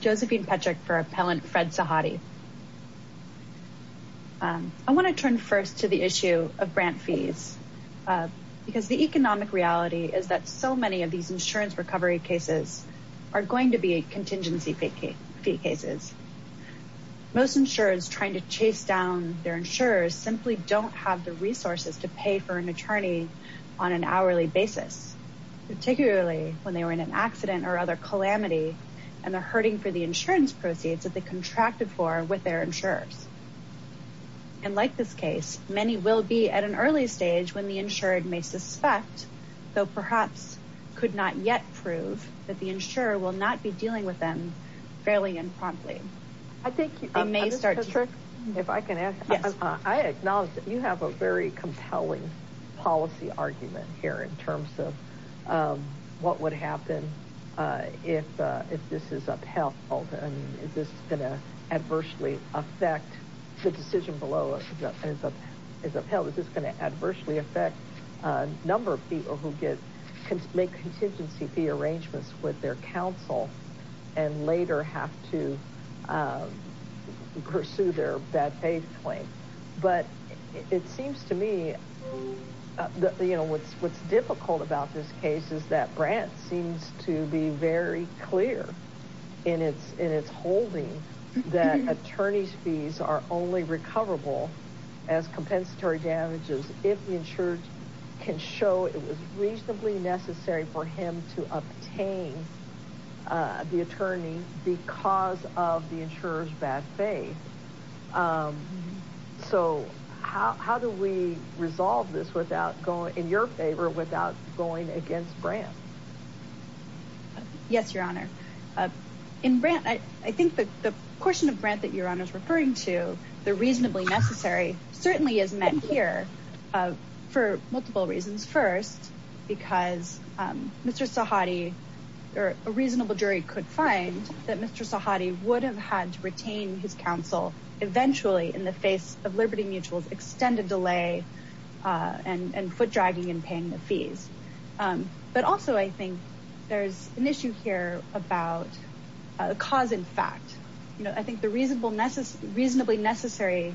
Josephine Petrick for Appellant Fred Sahadi. I want to turn first to the issue of grant fees because the economic reality is that so many of these insurance recovery cases are going to be a contingency fee cases. Most insurers trying to chase down their insurers simply don't have the resources to pay for an attorney on an hourly basis particularly when they were in an and they're hurting for the insurance proceeds that they contracted for with their insurers. And like this case many will be at an early stage when the insured may suspect though perhaps could not yet prove that the insurer will not be dealing with them fairly and promptly. I think you may start trick if I can ask I acknowledge that you have a very compelling policy argument here in terms of what would happen if this is upheld and if this is going to adversely affect the decision below. Is this going to adversely affect a number of people who can make contingency fee arrangements with their counsel and later have to pursue their bad faith claim. But it seems to me that you know what's difficult about this case is that Brant seems to be very clear in its in its holding that attorney's fees are only recoverable as compensatory damages if the insured can show it was reasonably necessary for him to obtain the attorney because of the insurers bad faith. So how do we resolve this without going in your favor without going against Brant. Yes your honor in Brant I think that the portion of Brant that your honor is referring to the reasonably necessary certainly is met here for multiple reasons. First because Mr. Sahadi or a reasonable jury could find that Mr. Sahadi would have had to retain his counsel eventually in the face of Liberty Mutual's extended delay and and foot dragging and paying the fees. But also I think there's an issue here about a cause in fact. You know I think the reasonable necessary reasonably necessary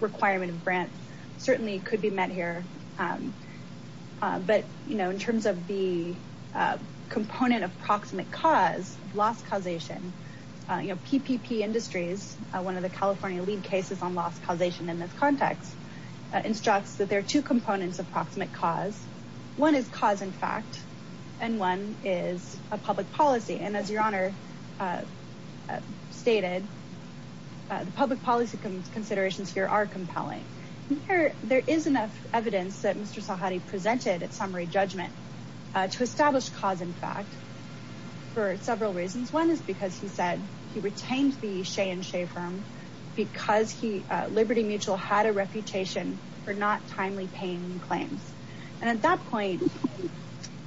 requirement of Brant certainly could be met here. But you know in terms of the component of proximate cause loss causation you know PPP Industries one of the California lead cases on loss causation in this context instructs that there are two components of proximate cause. One is cause in fact and one is a public policy and as your honor stated the public policy considerations here are compelling. There is enough evidence that Mr. Sahadi presented at summary judgment to establish cause in fact for several reasons. One is because he said he retained the Shea and Shea firm because Liberty Mutual had a reputation for not timely paying claims. And at that point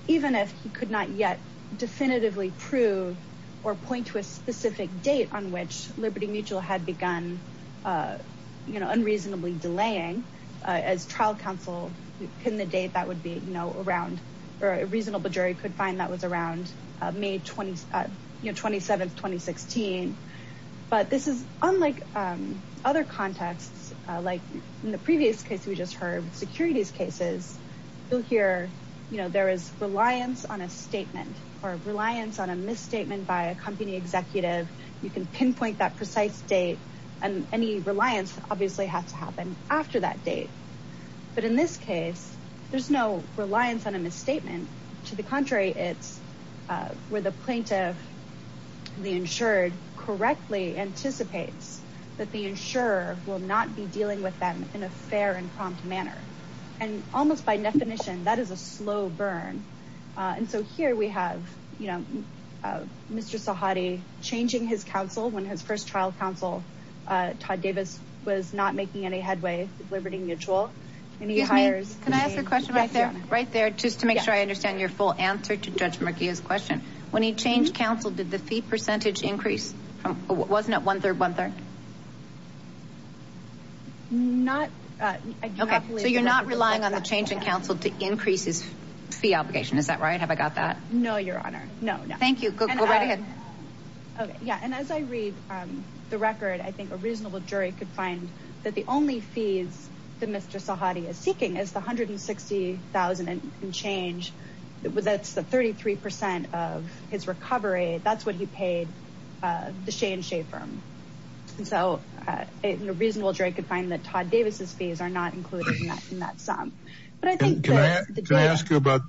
even if he could not yet definitively prove or point to a specific date on which Liberty Mutual had begun you know unreasonably delaying as trial counsel pin the date that would be you know around or a reasonable jury could find that was around May 27th 2016. But this is unlike other contexts like in the previous case we just heard securities cases you'll hear you know there is reliance on a statement or reliance on a misstatement by a company executive. You can pinpoint that precise date and any reliance obviously has to happen after that date. But in this case there's no reliance on a misstatement to the date where the plaintiff the insured correctly anticipates that the insurer will not be dealing with them in a fair and prompt manner. And almost by definition that is a slow burn. And so here we have you know Mr. Sahadi changing his counsel when his first trial counsel Todd Davis was not making any headway with Liberty Mutual. Excuse me can I ask a question right there right on Judge Murkia's question. When he changed counsel did the fee percentage increase? Wasn't it one-third one-third? So you're not relying on the change in counsel to increase his fee obligation is that right have I got that? No your honor no no. Thank you go right ahead. Okay yeah and as I read the record I think a reasonable jury could find that the only fees that Mr. Sahadi is seeking is the $160,000 and change it was that's the 33% of his recovery that's what he paid the Shea and Shea firm. And so a reasonable jury could find that Todd Davis's fees are not included in that sum. Can I ask you about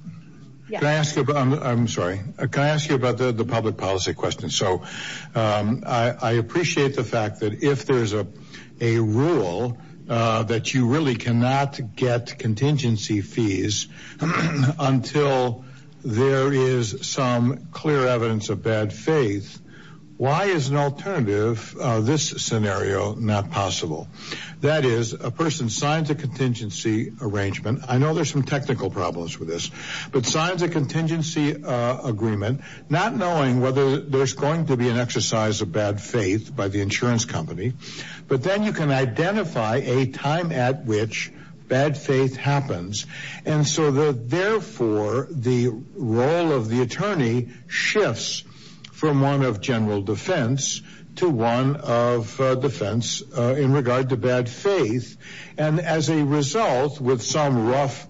the public policy question so I appreciate the fact that if there's a rule that you really cannot get contingency fees until there is some clear evidence of bad faith why is an alternative this scenario not possible? That is a person signs a contingency arrangement I know there's some technical problems with this but signs a contingency agreement not knowing whether there's going to be an exercise of bad faith by the insurance company but then you can identify a time at which bad faith happens and so that therefore the role of the attorney shifts from one of general defense to one of defense in regard to bad faith and as a result with some rough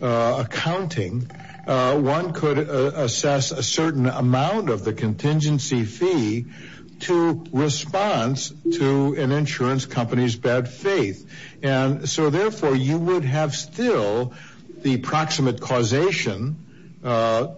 accounting one could assess a certain amount of the contingency fee to response to an insurance company's bad faith and so therefore you would have still the proximate causation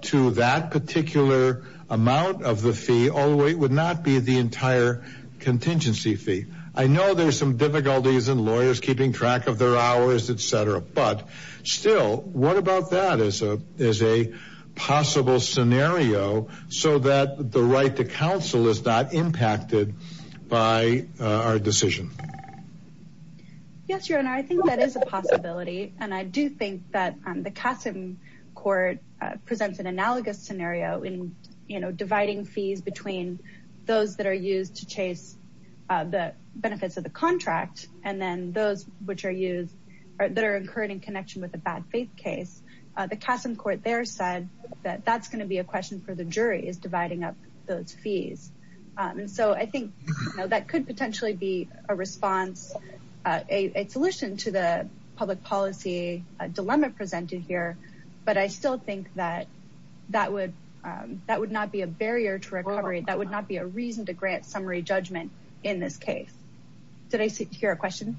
to that particular amount of the fee all the way it would not be the entire contingency fee I know there's some difficulties and lawyers keeping track of their hours etc but still what about that is a is a possible scenario so that the right to impacted by our decision? Yes your honor I think that is a possibility and I do think that on the Kassem court presents an analogous scenario in you know dividing fees between those that are used to chase the benefits of the contract and then those which are used that are incurring connection with a bad faith case the Kassem court there said that that's going to be a question for the jury is dividing up those fees and so I think that could potentially be a response a solution to the public policy dilemma presented here but I still think that that would that would not be a barrier to recovery that would not be a reason to grant summary judgment in this case did I secure a question?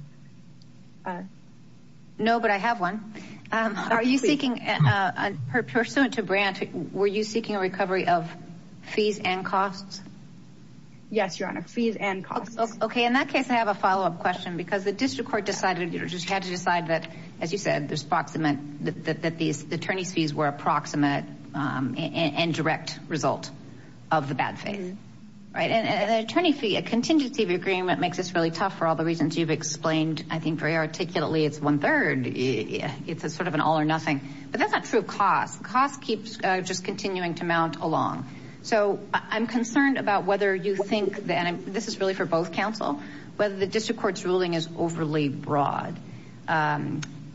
No but I have one are you seeking a pursuant to grant were you seeking a recovery of fees and costs? Yes your honor fees and costs. Okay in that case I have a follow-up question because the district court decided you know just had to decide that as you said there's proximate that these attorneys fees were approximate and direct result of the bad thing right and an attorney fee a contingency of agreement makes this really tough for all the reasons you've explained I think very articulately it's one-third yeah it's a sort of an all-or-nothing but that's not true cost cost keeps just continuing to mount along so I'm concerned about whether you think that this is really for both counsel whether the district courts ruling is overly broad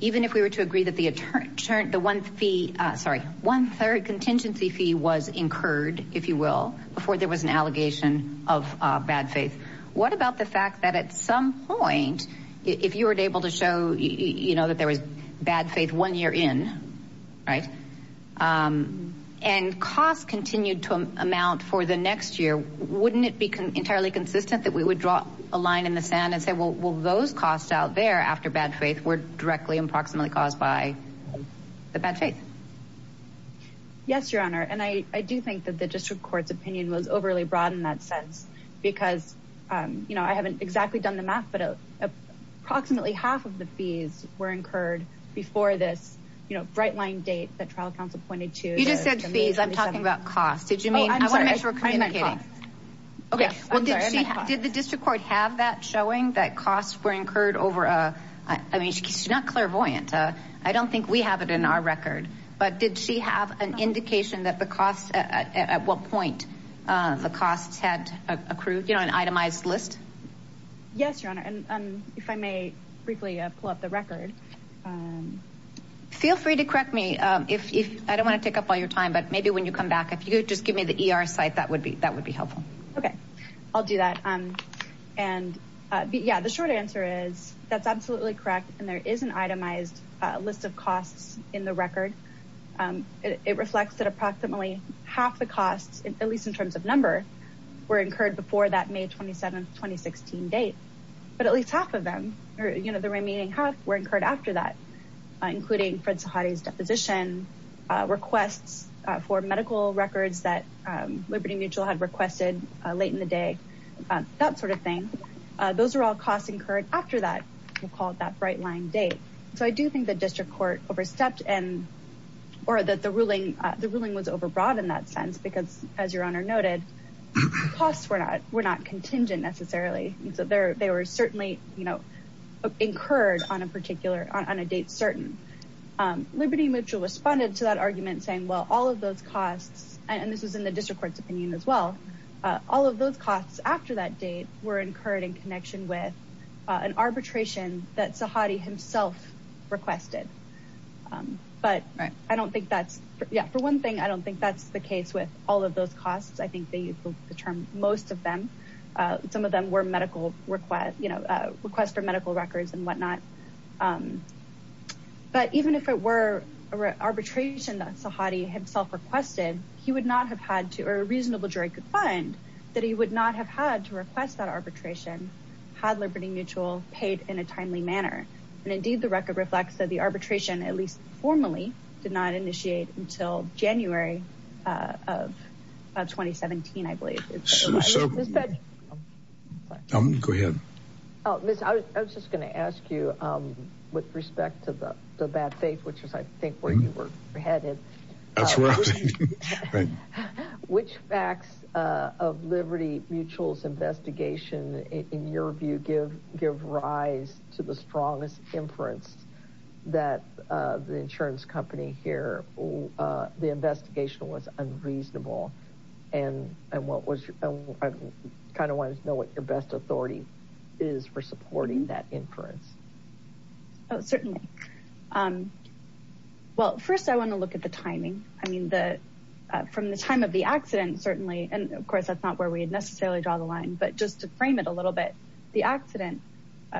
even if we were to agree that the attorney turned the one fee sorry one third contingency fee was incurred if you will before there was an allegation of bad faith what about the fact that at some point if you were able to show you know that there was bad faith one year in right and costs continued to amount for the next year wouldn't it become entirely consistent that we would draw a line in the sand and say well those costs out there after bad faith were directly approximately caused by the bad faith yes your honor and I I do think that the district courts opinion was you know I haven't exactly done the math but approximately half of the fees were incurred before this you know bright line date that trial council pointed to you just said fees I'm talking about cost did you mean I want to make sure kind of getting okay did the district court have that showing that costs were incurred over a I mean she's not clairvoyant I don't think we have it in our record but did she have an indication that the cost at what point the costs had accrued you know an itemized list yes your honor and if I may briefly pull up the record feel free to correct me if I don't want to take up all your time but maybe when you come back if you just give me the ER site that would be that would be helpful okay I'll do that um and yeah the short answer is that's absolutely correct and there is an itemized list of costs in the record it reflects that approximately half the costs at least in terms of number were incurred before that May 27 2016 date but at least half of them or you know the remaining half were incurred after that including Fred Sahadi's deposition requests for medical records that Liberty Mutual had requested late in the day that sort of thing those are all costs incurred after that you called that bright line date so I do think the district court overstepped and or that the ruling the ruling was overbroad in that sense because as your honor noted costs were not were not contingent necessarily and so there they were certainly you know incurred on a particular on a date certain Liberty Mutual responded to that argument saying well all of those costs and this is in the district courts opinion as well all of those costs after that date were arbitration that Sahadi himself requested but I don't think that's yeah for one thing I don't think that's the case with all of those costs I think they use the term most of them some of them were medical request you know request for medical records and whatnot but even if it were arbitration that Sahadi himself requested he would not have had to or a reasonable jury could find that he would not have had to request that arbitration had Liberty Mutual paid in a timely manner and indeed the record reflects that the arbitration at least formally did not initiate until January of 2017 I believe go ahead I was just gonna ask you with respect to the bad faith which is I think where you were headed which facts of Liberty Mutual's investigation in your view give give rise to the strongest inference that the insurance company here the investigation was unreasonable and and what was kind of wanted to know what your best authority is for supporting that inference oh certainly well first I want to look at the timing I mean that from the time of the accident certainly and of course that's not where we had necessarily draw the line but just to frame it a little bit the accident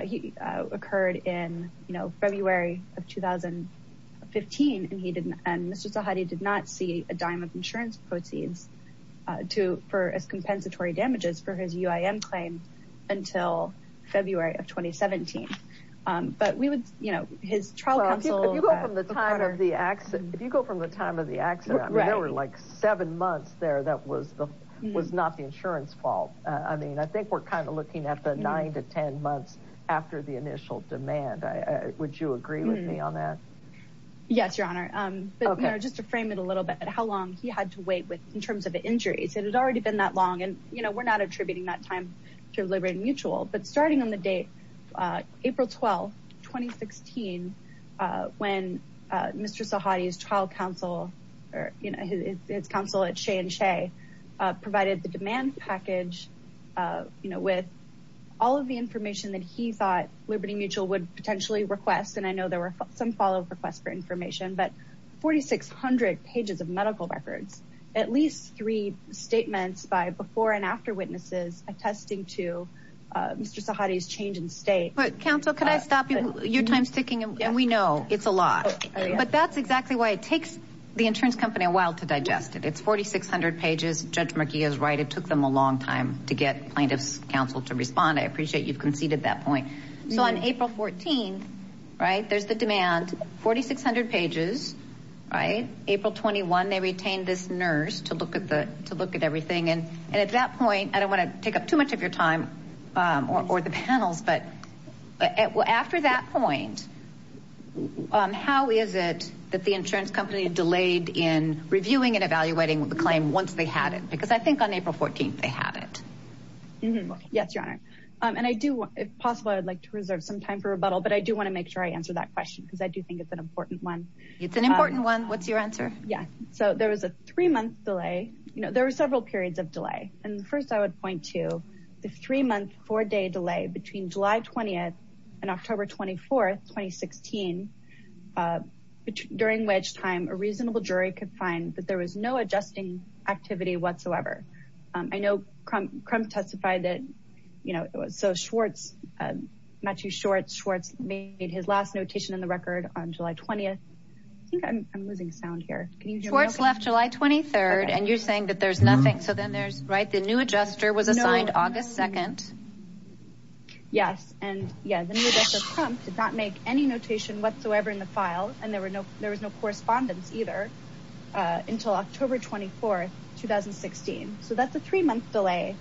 he occurred in you know February of 2015 and he didn't and mr. Sahadi did not see a dime of insurance proceeds to for as compensatory damages for his UIM claim until February of 2017 but we would you know his trial counsel the time of the accident if you go from the time of the accident right over like seven months there that was the was not the insurance fault I mean I think we're kind of looking at the nine to ten months after the initial demand I would you agree with me on that yes your honor okay just to frame it a little bit how long he had to wait with in terms of injuries it had already been that long and you know we're not attributing that time to liberate mutual but starting on the date April 12 2016 when mr. Sahadi's trial counsel or you know his counsel at Shea and Shea provided the demand package you know with all of the information that he thought Liberty Mutual would potentially request and I know there were some follow-up requests for information but 4,600 pages of medical records at least three statements by before and after witnesses attesting to mr. Sahadi's change in state but counsel could I stop you your time sticking and we know it's a lot but that's exactly why it takes the insurance company a while to digest it it's 4,600 pages judge McGee is right it took them a long time to get plaintiffs counsel to respond I appreciate you've conceded that point so on April 14 right there's the demand 4,600 pages right April 21 they retained this nurse to look at the to look at everything and at that point I don't want to take up too the insurance company delayed in reviewing and evaluating with the claim once they had it because I think on April 14th they had it mm-hmm yes your honor and I do if possible I'd like to reserve some time for rebuttal but I do want to make sure I answer that question because I do think it's an important one it's an important one what's your answer yeah so there was a three month delay you know there were several periods of delay and the first I would point to the three-month four-day delay between July 20th and October 24th 2016 during wedge time a reasonable jury could find that there was no adjusting activity whatsoever I know Crump testified that you know it was so Schwartz not too short Schwartz made his last notation in the record on July 20th I'm losing sound here can you do it's left July 23rd and you're saying that there's nothing so then there's right the new adjuster was assigned August 2nd yes and yeah did not make any notation whatsoever in the file and there were no there was no correspondence either until October 24th 2016 so that's a three month delay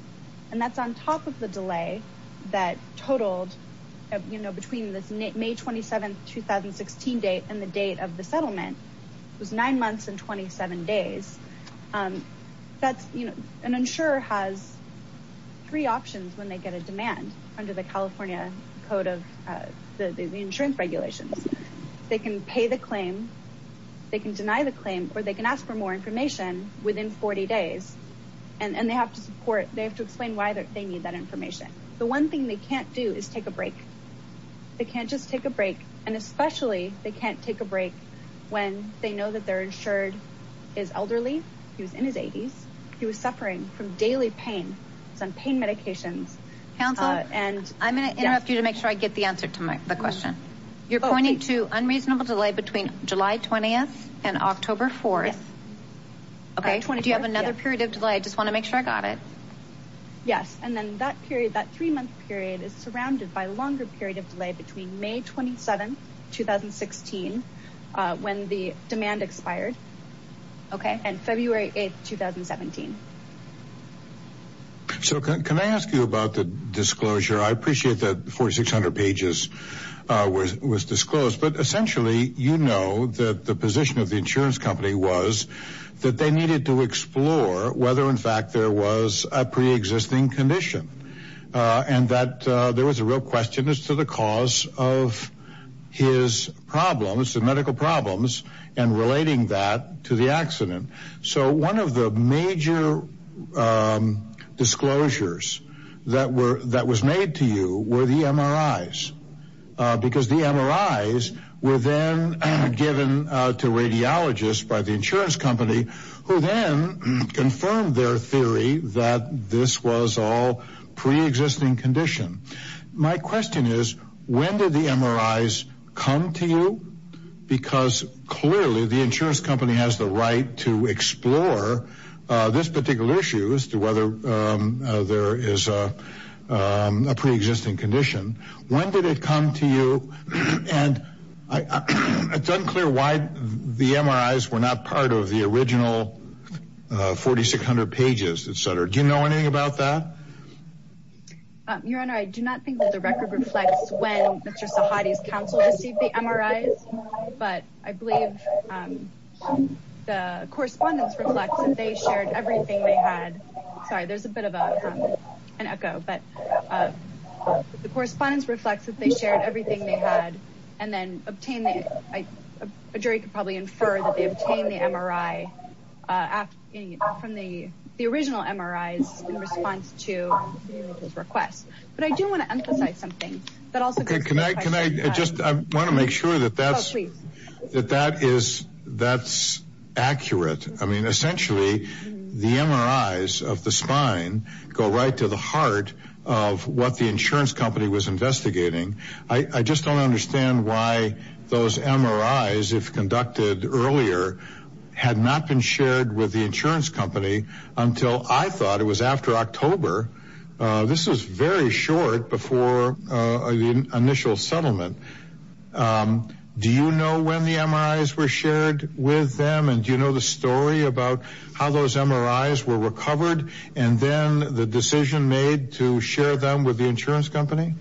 and that's on top of the delay that totaled you know between this may 27th 2016 date and the date of the settlement was nine months and 27 days that's you know an insurer has three options when they get a demand under the California code of the insurance regulations they can pay the claim they can deny the claim or they can ask for more information within 40 days and and they have to support they have to explain why that they need that information the one thing they can't do is take a break they can't just take a break and especially they can't take a break when they know that they're insured is elderly he was in his 80s he was suffering from daily pain some pain medications counsel and I'm gonna interrupt you to make sure I get the answer to my question you're going into unreasonable delay between July 20th and October 4th okay do you have another period of delay I just want to make sure I got it yes and then that period that three month period is surrounded by longer period of delay between May 27 2016 when the demand expired okay and February 8th 2017 so can I ask you about the disclosure I appreciate that 4600 pages was was disclosed but essentially you know that the position of the insurance company was that they needed to explore whether in fact there was a pre-existing condition and that there was a real question as to the cause of his problems the medical problems and relating that to the accident so one of the major disclosures that were that was made to you were the MRIs because the MRIs were then given to radiologists by the insurance company who then confirmed their theory that this was all pre-existing condition my question is when did the MRIs come to you because clearly the insurance company has the right to explore this particular issue as to whether there is a pre-existing condition when did it come to you and it's unclear why the MRIs were not part of the original 4600 pages etc do you know anything about that your honor I do not think that the record reflects when mr. Sahadi's counsel received the MRIs but I believe the correspondence reflects and they shared everything they had sorry there's a bit of an echo but the correspondence reflects that they shared everything they had and then obtained a jury could probably infer that they obtained the MRI from the the original MRIs in response to his request but I do want to emphasize something that also can I can I just I want to make sure that that's sweet that that is that's accurate I mean essentially the MRIs of the spine go right to the heart of what the insurance company was investigating I just don't understand why those MRIs if conducted earlier had not been shared with the insurance company until I thought it was after October this is very short before the initial settlement do you know when the MRIs were shared with them and you know the story about how those MRIs were recovered and then the decision made to share them with the insurance company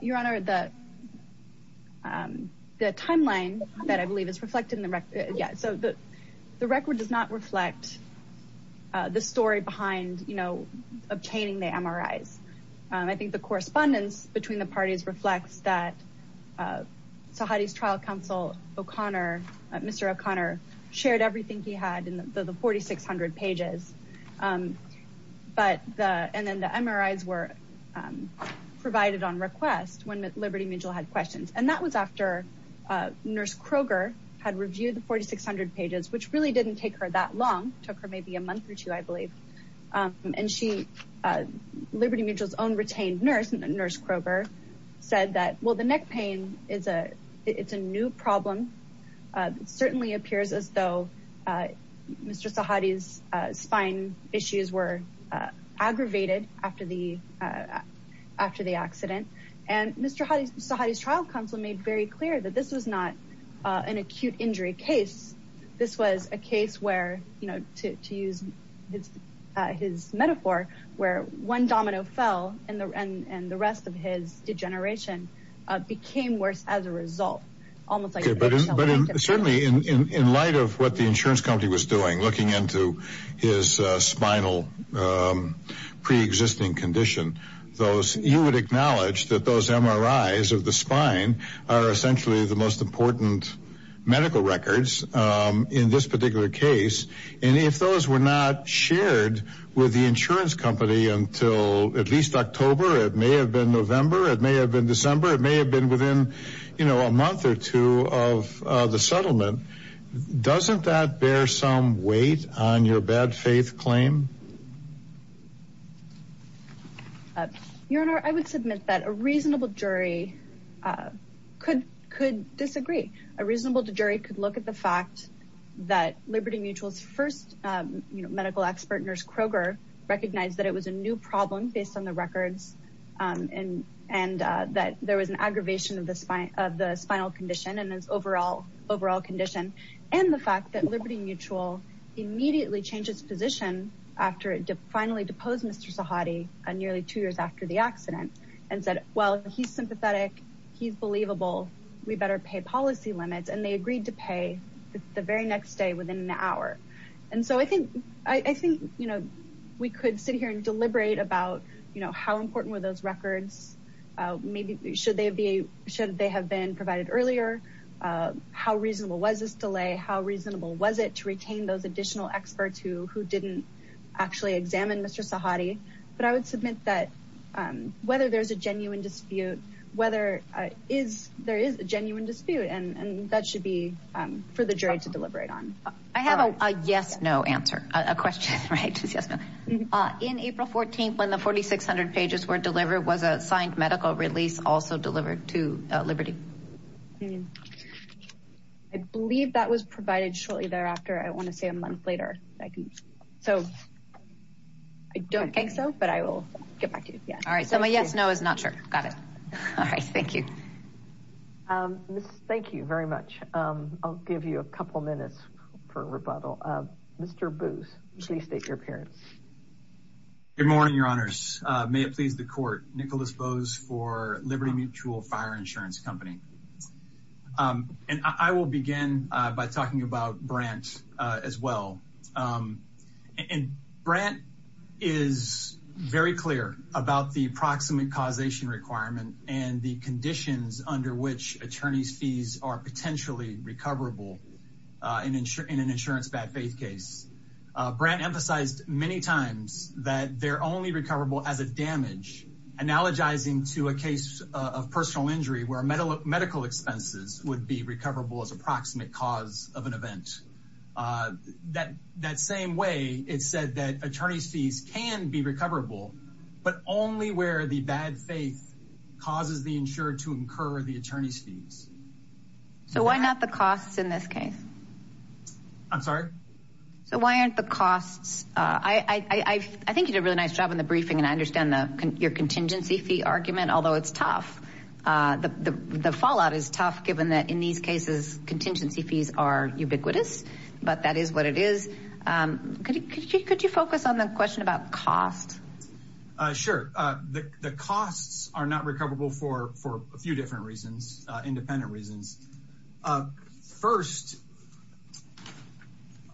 your honor the the timeline that I believe is reflected in the record yeah so the the record does not reflect the story behind you know obtaining the MRIs I think the correspondence between the parties reflects that Sahadi's trial counsel O'Connor mr. O'Connor shared everything he had in the 4,600 pages but and then the MRIs were provided on request when Liberty Mutual had questions and that was after nurse Kroger had reviewed the 4,600 pages which really didn't take her that long took her maybe a month or two I believe and she Liberty Mutual's own retained nurse nurse Kroger said that well the neck pain is a it's a new problem it certainly appears as though mr. Sahadi's issues were aggravated after the after the accident and mr. Sahadi's trial counsel made very clear that this was not an acute injury case this was a case where you know to use his metaphor where one domino fell in the end and the rest of his degeneration became worse as a result almost certainly in light of what the insurance company was doing looking into his spinal pre-existing condition those you would acknowledge that those MRIs of the spine are essentially the most important medical records in this particular case and if those were not shared with the insurance company until at least October it may have been November it may have been December it may have been within you know a month or two of the settlement doesn't that bear some weight on your bad faith claim your honor I would submit that a reasonable jury could could disagree a reasonable to jury could look at the fact that Liberty Mutual's first medical expert nurse Kroger recognized that it was a new problem based on the records and and that there was an aggravation of the spine of the spinal condition and his overall overall condition and the fact that Liberty Mutual immediately changed its position after it finally deposed mr. Sahadi and nearly two years after the accident and said well he's sympathetic he's believable we better pay policy limits and they agreed to pay the very next day within an hour and so I think I think you know we could sit here and deliberate about you know how important were those records maybe should they be should they have been provided earlier how reasonable was this delay how reasonable was it to retain those additional experts who who didn't actually examine mr. Sahadi but I would submit that whether there's a genuine dispute whether is there is a genuine dispute and that should be for the jury to deliberate on I have a yes no answer a question right yes in April 14th when the 4,600 pages were delivered was a signed medical release also delivered to Liberty I believe that was provided shortly thereafter I want to say a month later I can so I don't think so but I will get back to you yeah all right so my yes no is not sure got it all right thank you thank you very much I'll give you a couple minutes for rebuttal mr. booth please state your appearance good morning your honors may it please the court Nicholas bows for Liberty Mutual fire insurance company and I will begin by talking about branch as well and Brent is very clear about the approximate causation requirement and the conditions under which attorneys fees are emphasized many times that they're only recoverable as a damage analogizing to a case of personal injury where a medal of medical expenses would be recoverable as approximate cause of an event that that same way it said that attorneys fees can be recoverable but only where the bad faith causes the insured to incur the costs I I think you did a really nice job in the briefing and I understand the your contingency fee argument although it's tough the the fallout is tough given that in these cases contingency fees are ubiquitous but that is what it is could you could you focus on the question about cost sure the costs are not recoverable for for a few different reasons independent reasons first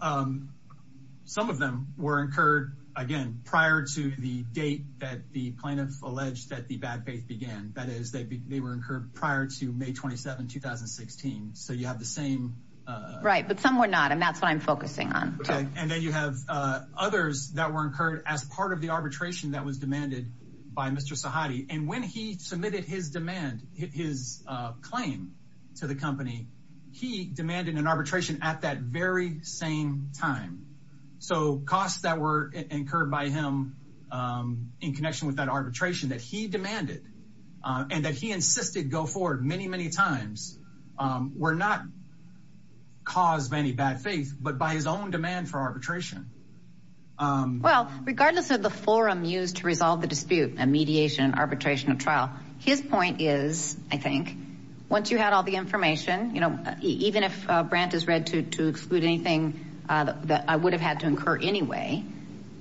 some of them were incurred again prior to the date that the plaintiff alleged that the bad faith began that is they were incurred prior to May 27 2016 so you have the same right but some were not and that's what I'm focusing on and then you have others that were incurred as part of the arbitration that was submitted his demand his claim to the company he demanded an arbitration at that very same time so costs that were incurred by him in connection with that arbitration that he demanded and that he insisted go forward many many times were not caused by any bad faith but by his own demand for arbitration well regardless of the forum used to resolve the dispute and mediation arbitration of his point is I think once you had all the information you know even if Brandt is read to exclude anything that I would have had to incur anyway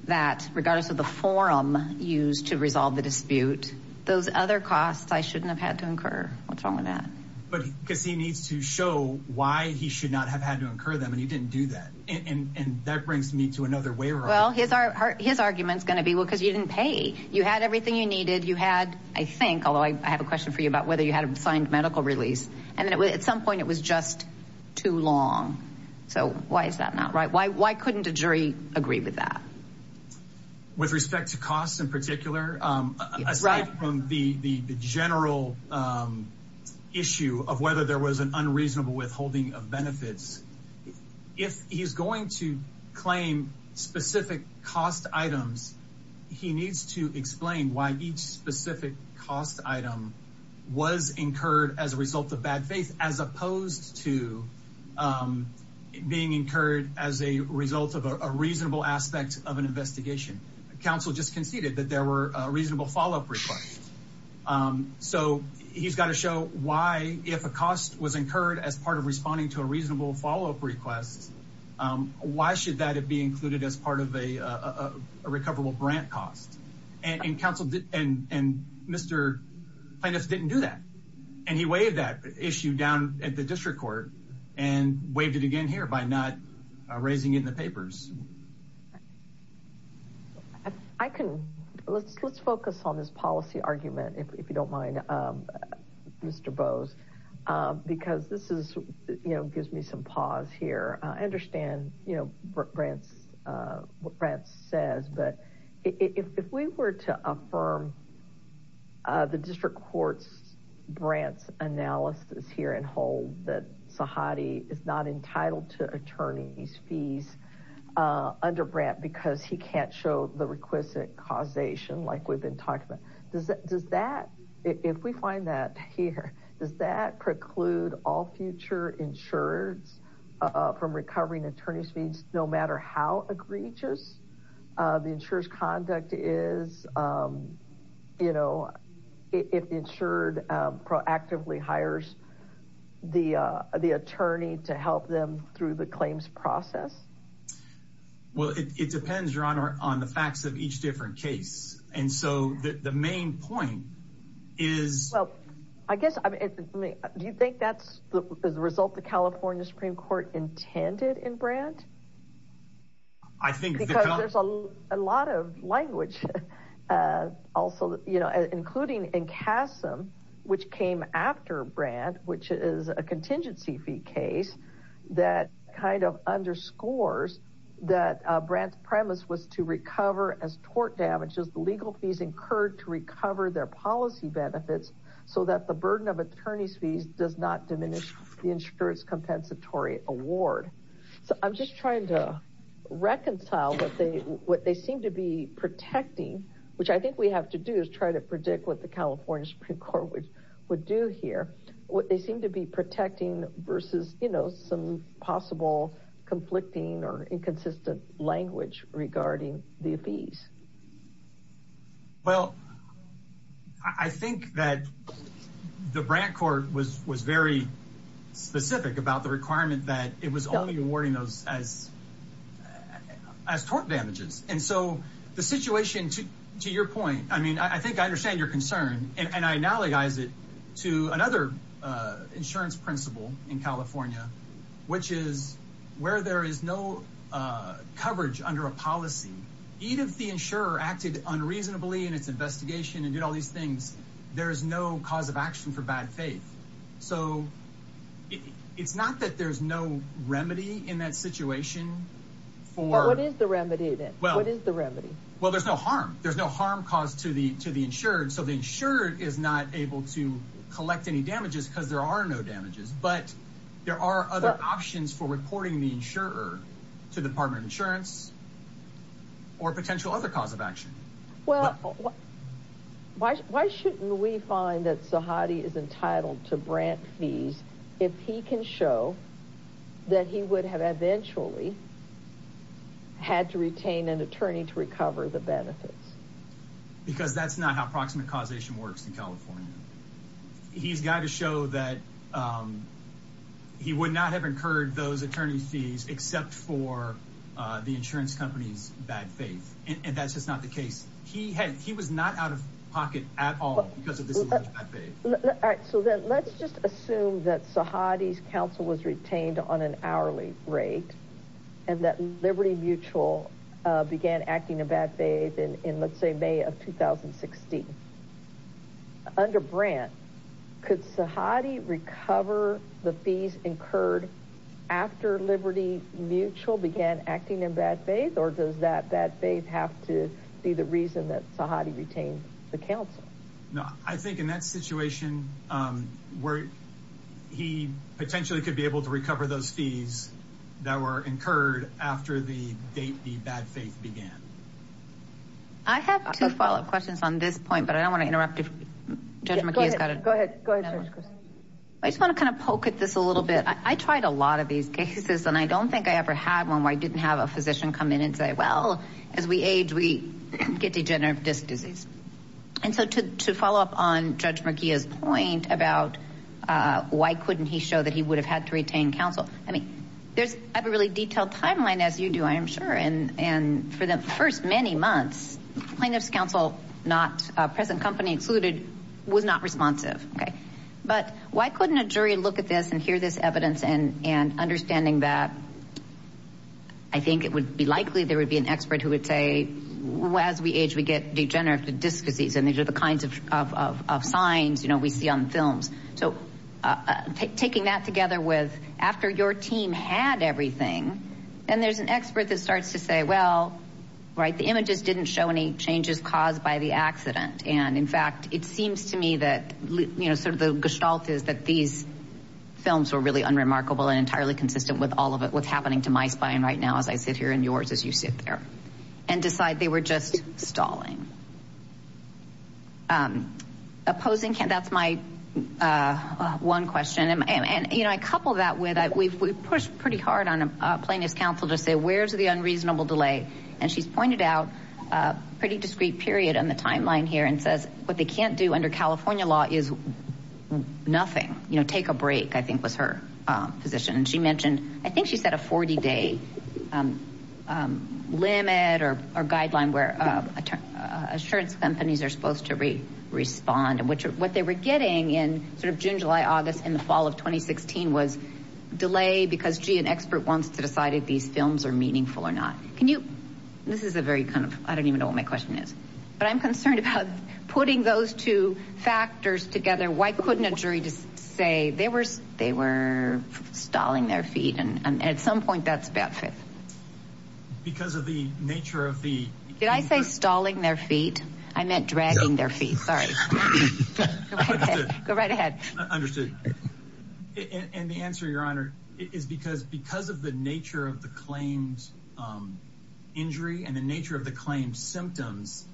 that regardless of the forum used to resolve the dispute those other costs I shouldn't have had to incur what's wrong with that but because he needs to show why he should not have had to incur them and he didn't do that and that brings me to another way well his are his arguments going to be well because you didn't pay you had everything you needed you had I think although I have a question for you about whether you had a signed medical release and it was at some point it was just too long so why is that not right why why couldn't a jury agree with that with respect to costs in particular right from the the general issue of whether there was an unreasonable withholding of benefits if he's going to claim specific cost items he needs to explain why each specific cost item was incurred as a result of bad faith as opposed to being incurred as a result of a reasonable aspect of an investigation counsel just conceded that there were a reasonable follow-up request so he's got to show why if a cost was incurred as part of responding to a reasonable follow-up request why should that it be included as part of a recoverable grant cost and counsel did and and mr. plaintiffs didn't do that and he waived that issue down at the district court and waived it again here by not raising in the papers I couldn't let's let's focus on this policy argument if you don't mind mr. Bose because this is you know gives me some pause here I understand you know Brant's what Brant says but if we were to affirm the district courts Brant's analysis here and hold that Sahadi is not entitled to attorneys fees under Brant because he can't show the requisite causation like we've been talking about does that does that if we find that here does that preclude all future insurance from recovering attorneys fees no matter how egregious the insurers conduct is you know if insured proactively hires the the attorney to help them through the claims process well it depends your honor on the facts of each different case and so the main point is I guess I mean do you think that's the result the California Supreme Court intended in Brant I think there's a lot of language also you know including in CASM which came after Brant which is a contingency fee case that kind of underscores that Brant's premise was to recover as tort damages the legal fees incurred to recover their policy benefits so that the burden of attorneys fees does not diminish the insurance compensatory award so I'm just trying to reconcile what they what they seem to be protecting which I think we have to do is try to predict what the California Supreme Court would do here what they seem to be protecting versus you know some possible conflicting or inconsistent language regarding the fees well I think that the Brant court was was very specific about the requirement that it was only awarding those as as tort damages and so the situation to to your point I mean I think I understand your concern and I analogize it to another insurance principle in California which is where there is no coverage under a policy even if the insurer acted unreasonably in its investigation and did all these things there is no cause of action for bad faith so it's not that there's no remedy in that situation for what is the remedy that well what is the remedy well there's no harm there's no harm caused to the to the insured so the insured is not able to collect any but there are other options for reporting the insurer to the Department of Insurance or potential other cause of action well why shouldn't we find that Sahadi is entitled to Brant fees if he can show that he would have eventually had to retain an attorney to recover the benefits because that's not how he would not have incurred those attorney fees except for the insurance company's bad faith and that's just not the case he had he was not out of pocket at all so that let's just assume that Sahadi's counsel was retained on an hourly rate and that Liberty Mutual began acting a bad faith and in let's could Sahadi recover the fees incurred after Liberty Mutual began acting in bad faith or does that bad faith have to be the reason that Sahadi retained the counsel no I think in that situation where he potentially could be able to recover those fees that were incurred after the date the bad faith began I have two follow-up questions on this point but I don't want to interrupt if I just want to kind of poke at this a little bit I tried a lot of these cases and I don't think I ever had one where I didn't have a physician come in and say well as we age we get degenerative disc disease and so to follow up on Judge McGee is point about why couldn't he show that he would have had to retain counsel I mean there's a really detailed timeline as you do I am sure and and for the first many months plaintiffs counsel not present company included was not responsive okay but why couldn't a jury look at this and hear this evidence and and understanding that I think it would be likely there would be an expert who would say well as we age we get degenerative disc disease and these are the kinds of signs you know we see on films so taking that together with after your team had everything and there's an expert that starts to say well right the images didn't show any changes caused by the accident and in fact it seems to me that you know sort of the gestalt is that these films were really unremarkable and entirely consistent with all of it what's happening to my spine right now as I sit here in yours as you sit there and decide they were just stalling opposing can that's my one question and you know I couple that with it we've pushed pretty hard on a plaintiff's counsel to say where's the unreasonable delay and she's pointed out a pretty discreet period on the timeline here and says what they can't do under California law is nothing you know take a break I think was her position and she mentioned I think she said a 40-day limit or a guideline where assurance companies are supposed to read respond and which what they were getting in sort of June July August in the fall of 2016 was delay because she an expert wants to decide if these films are meaningful or not can you this is a very kind of I don't even know what my question is but I'm concerned about putting those two factors together why couldn't a jury just say they were they were stalling their feet and at some point that's bad fit because of the nature of the did I say stalling their feet I meant dragging their feet sorry go right ahead understood and the answer your honor is because because of the nature of the claims injury and the nature of the symptoms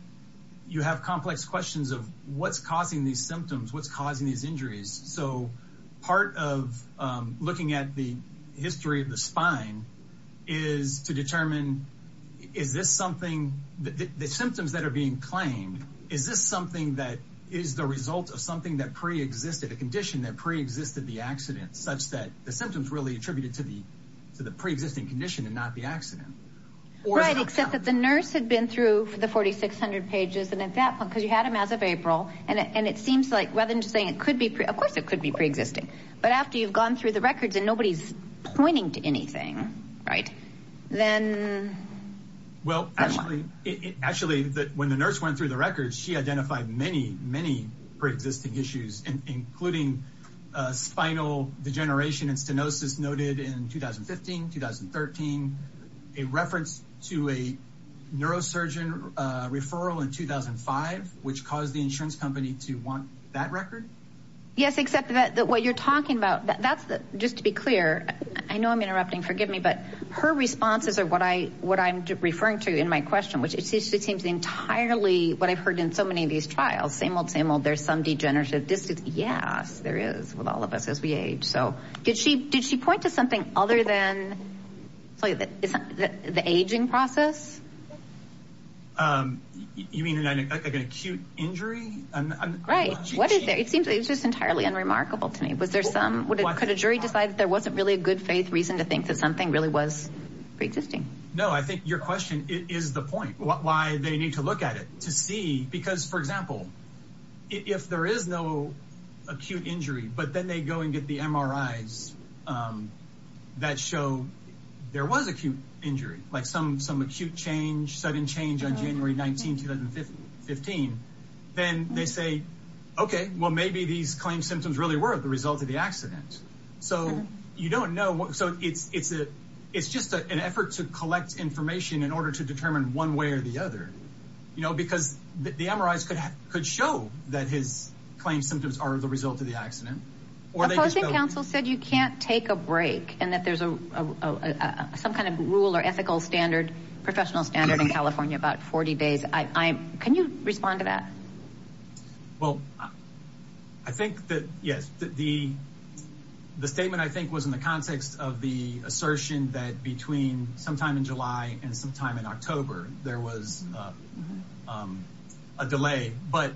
you have complex questions of what's causing these symptoms what's causing these injuries so part of looking at the history of the spine is to determine is this something that the symptoms that are being claimed is this something that is the result of something that pre-existed a condition that pre-existed the accident such that the symptoms really attributed to the to the pre-existing condition and not the accident right except that the nurse had been through for the 4,600 pages and at that point because you had him as of April and it seems like rather than saying it could be of course it could be pre-existing but after you've gone through the records and nobody's pointing to anything right then well actually it actually that when the nurse went through the records she identified many many pre-existing issues and including spinal degeneration and stenosis noted in 2015 2013 a reference to a neurosurgeon referral in 2005 which caused the insurance company to want that record yes except that what you're talking about that's the just to be clear I know I'm interrupting forgive me but her responses are what I what I'm referring to in my question which it seems entirely what I've heard in so many of these trials same old same old there's some degenerative distance yes there is with all of us as we age so did she did she point to something other than the aging process you mean an acute injury and right what is there it seems it's just entirely unremarkable to me was there some what could a jury decided there wasn't really a good faith reason to think that something really was pre-existing no I think your question is the point why they need to look at it to see because for example if there is no acute injury but then they go and get the MRIs that show there was acute injury like some some acute change sudden change on January 19 2015 then they say okay well maybe these claim symptoms really were the result of the accident so you don't know what so it's it's a it's just an effort to collect information in order to determine one way or the other you know because the MRIs could have could show that his claims symptoms are the result of the accident or the opposing counsel said you can't take a break and that there's a some kind of rule or ethical standard professional standard in California about 40 days I can you respond to that well I think that yes the the statement I think was in the context of the assertion that between sometime in July and sometime in October there was a delay but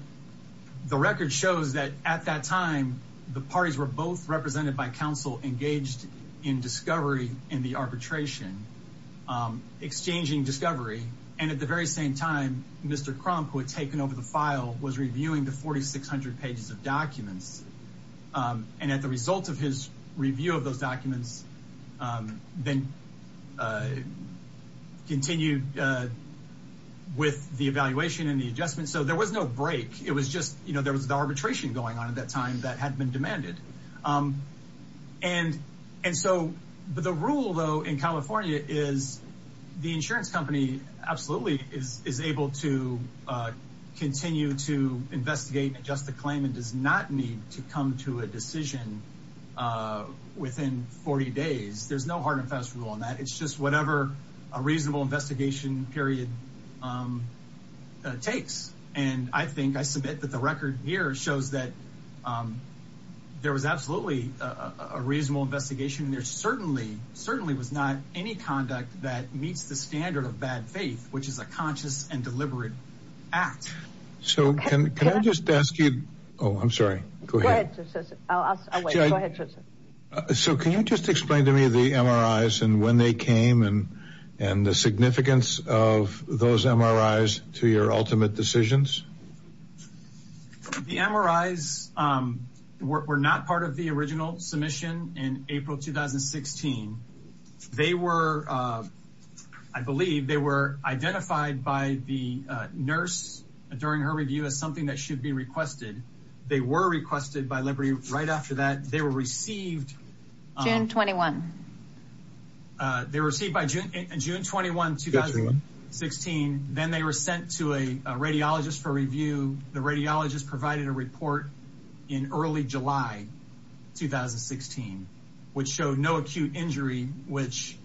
the record shows that at that time the parties were both represented by counsel engaged in discovery in the arbitration exchanging discovery and at the very same time mr. Crump who had taken over the file was reviewing the 4,600 pages of documents and at the result of his review of those documents then continued with the evaluation and the adjustment so there was no break it was just you know there was the arbitration going on at that time that had been demanded and and so but the rule though in California is the insurance company absolutely is is able to continue to investigate and just the days there's no hard and fast rule on that it's just whatever a reasonable investigation period takes and I think I submit that the record here shows that there was absolutely a reasonable investigation there certainly certainly was not any conduct that meets the standard of bad faith which is a conscious and deliberate act so can I just ask you oh I'm sorry so can you just explain to me the MRIs and when they came and and the significance of those MRIs to your ultimate decisions the MRIs were not part of the original submission in April 2016 they were I believe they were identified by the nurse during her review as something that should be requested by Liberty right after that they were received June 21 they received by June June 21 2016 then they were sent to a radiologist for review the radiologist provided a report in early July 2016 which showed no acute injury which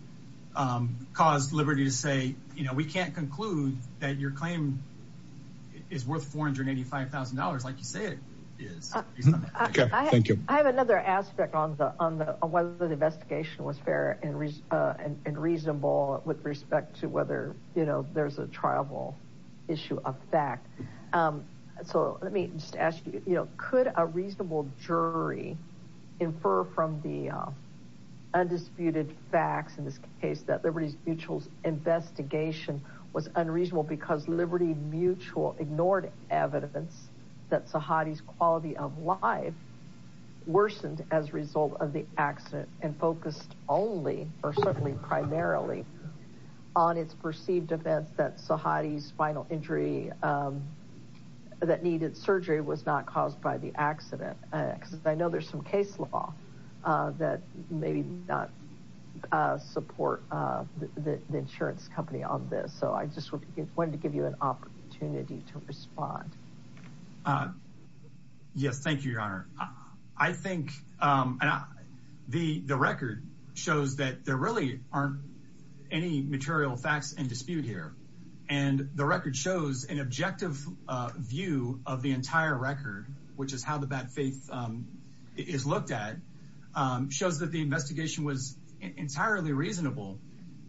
caused Liberty to say you know we can't conclude that your claim is worth $485,000 like you say it is thank you I have another aspect on the on the whether the investigation was fair and reasonable with respect to whether you know there's a triable issue of fact so let me just ask you you know could a reasonable jury infer from the undisputed facts in this case that Liberty Mutual's investigation was unreasonable because Liberty Mutual ignored evidence that Sahadi's quality of life worsened as a result of the accident and focused only or certainly primarily on its perceived events that Sahadi's spinal injury that needed surgery was not caused by the accident because I know there's some case law that maybe not support the insurance company on this so I just want to give you an opportunity to respond yes thank you your honor I think the the record shows that there really aren't any material facts and dispute here and the record shows an objective view of the entire record which is how the bad faith is looked at shows that the investigation was entirely reasonable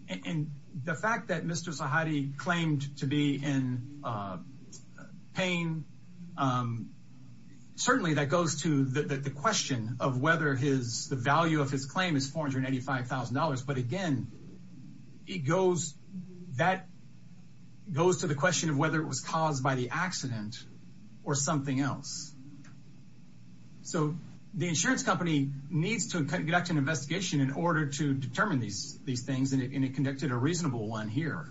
and the fact that mr. Sahadi claimed to be in pain certainly that goes to the question of whether his the value of his claim is $485,000 but again it goes that goes to the question of whether it was caused by the accident or something else so the insurance company needs to conduct an in order to determine these these things and it conducted a reasonable one here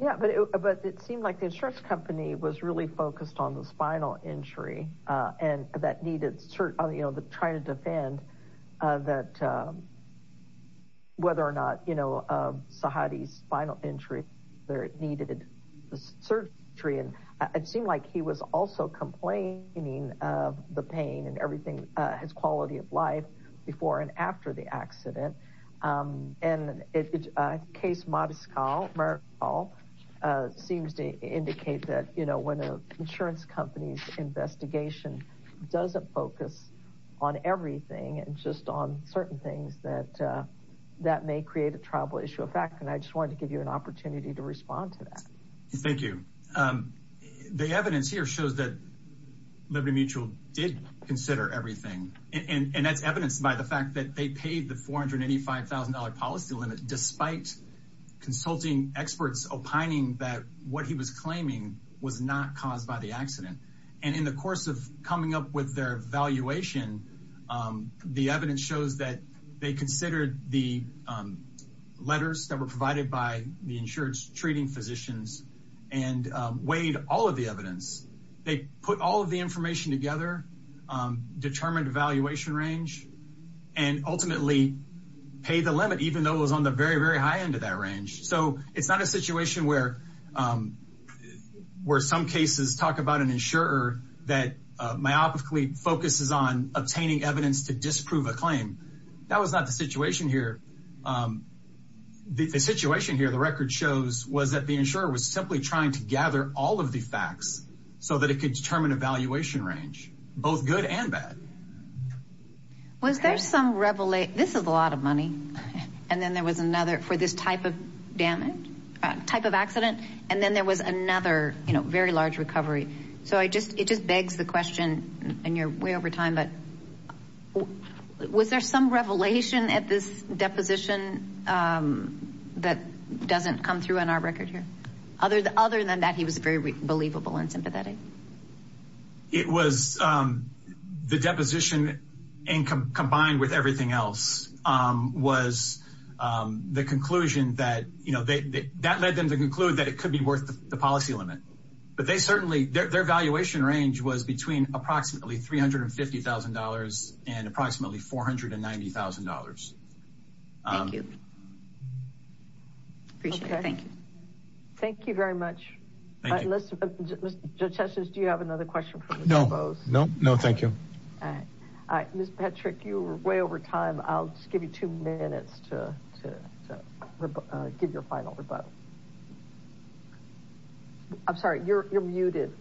yeah but it seemed like the insurance company was really focused on the spinal injury and that needed cert on you know the trying to defend that whether or not you know Sahadi's spinal injury there it needed surgery and it seemed like he was also complaining of the pain and everything his quality of accident and it's a case modest call all seems to indicate that you know when a insurance company's investigation doesn't focus on everything and just on certain things that that may create a tribal issue of fact and I just wanted to give you an opportunity to respond to that thank you the evidence here shows that Liberty Mutual did consider everything and that's evidenced by the $485,000 policy limit despite consulting experts opining that what he was claiming was not caused by the accident and in the course of coming up with their valuation the evidence shows that they considered the letters that were provided by the insurance treating physicians and weighed all of the evidence they put all of the information together determined evaluation range and ultimately pay the limit even though it was on the very very high end of that range so it's not a situation where where some cases talk about an insurer that myopically focuses on obtaining evidence to disprove a claim that was not the situation here the situation here the record shows was that the insurer was simply trying to gather all of the facts so that it could determine evaluation range both good and bad was there some revelate this is a lot of money and then there was another for this type of damage type of accident and then there was another you know very large recovery so I just it just begs the question and you're way over time but was there some revelation at this deposition that doesn't come through on our record here other than that he was very believable and sympathetic it was the deposition and combined with everything else was the conclusion that you know they that led them to conclude that it could be worth the policy limit but they certainly their valuation range was between approximately three hundred and fifty thousand dollars and approximately four hundred and ninety thousand dollars appreciate thank you thank you very much listen judges do you have another question no no no thank you all right miss Patrick you were way over time I'll just give you two minutes to give your final rebuttal I'm sorry you're muted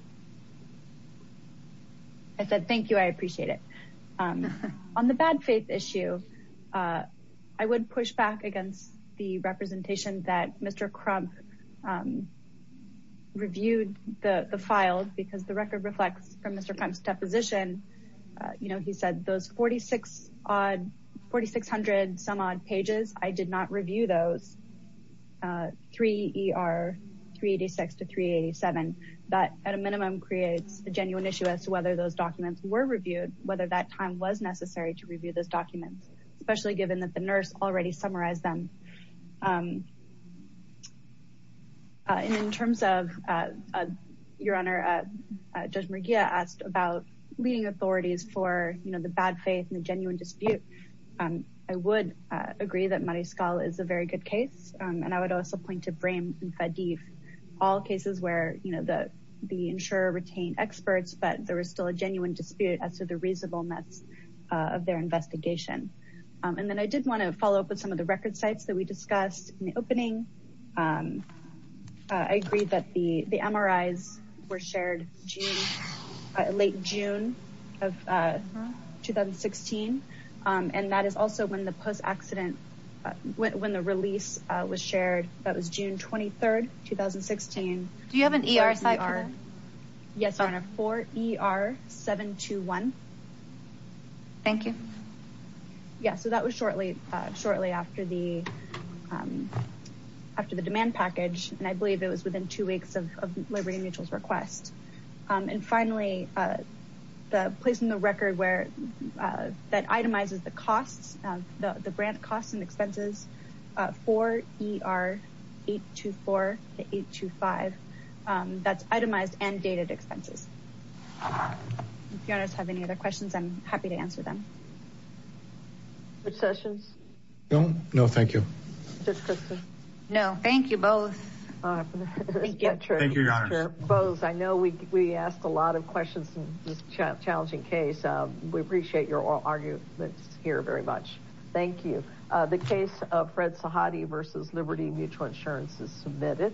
I said thank you I appreciate it on the bad faith issue I would push back against the reviewed the the filed because the record reflects from mr. Crump's deposition you know he said those forty six odd forty six hundred some odd pages I did not review those three er 386 to 387 but at a minimum creates a genuine issue as to whether those documents were reviewed whether that time was necessary to review those documents especially given that the nurse already summarized them in terms of your honor judge Maria asked about leading authorities for you know the bad faith and the genuine dispute I would agree that my skull is a very good case and I would also point to frame and fadif all cases where you know the the insurer retain experts but there was still a genuine dispute as to the reasonableness of their investigation and then I did want to follow up with some of the record sites that we discussed in the opening I agreed that the the MRIs were shared late June of 2016 and that is also when the post accident when the release was shared that was June 23rd 2016 do you have an ER side are yes on a 4 ER 7 to 1 thank you yeah so that was shortly shortly after the after the demand package and I believe it was within two weeks of Liberty Mutuals request and finally the place in the record where that itemizes the costs of the grant costs and expenses for ER 8 to 4 to 8 to 5 that's itemized and dated expenses if you have any other questions I'm happy to answer them which sessions no no thank you no thank you both I know we asked a lot of questions challenging case we appreciate your oral arguments here very much thank you the case of Fred Sahadi versus Liberty Mutual Insurance is submitted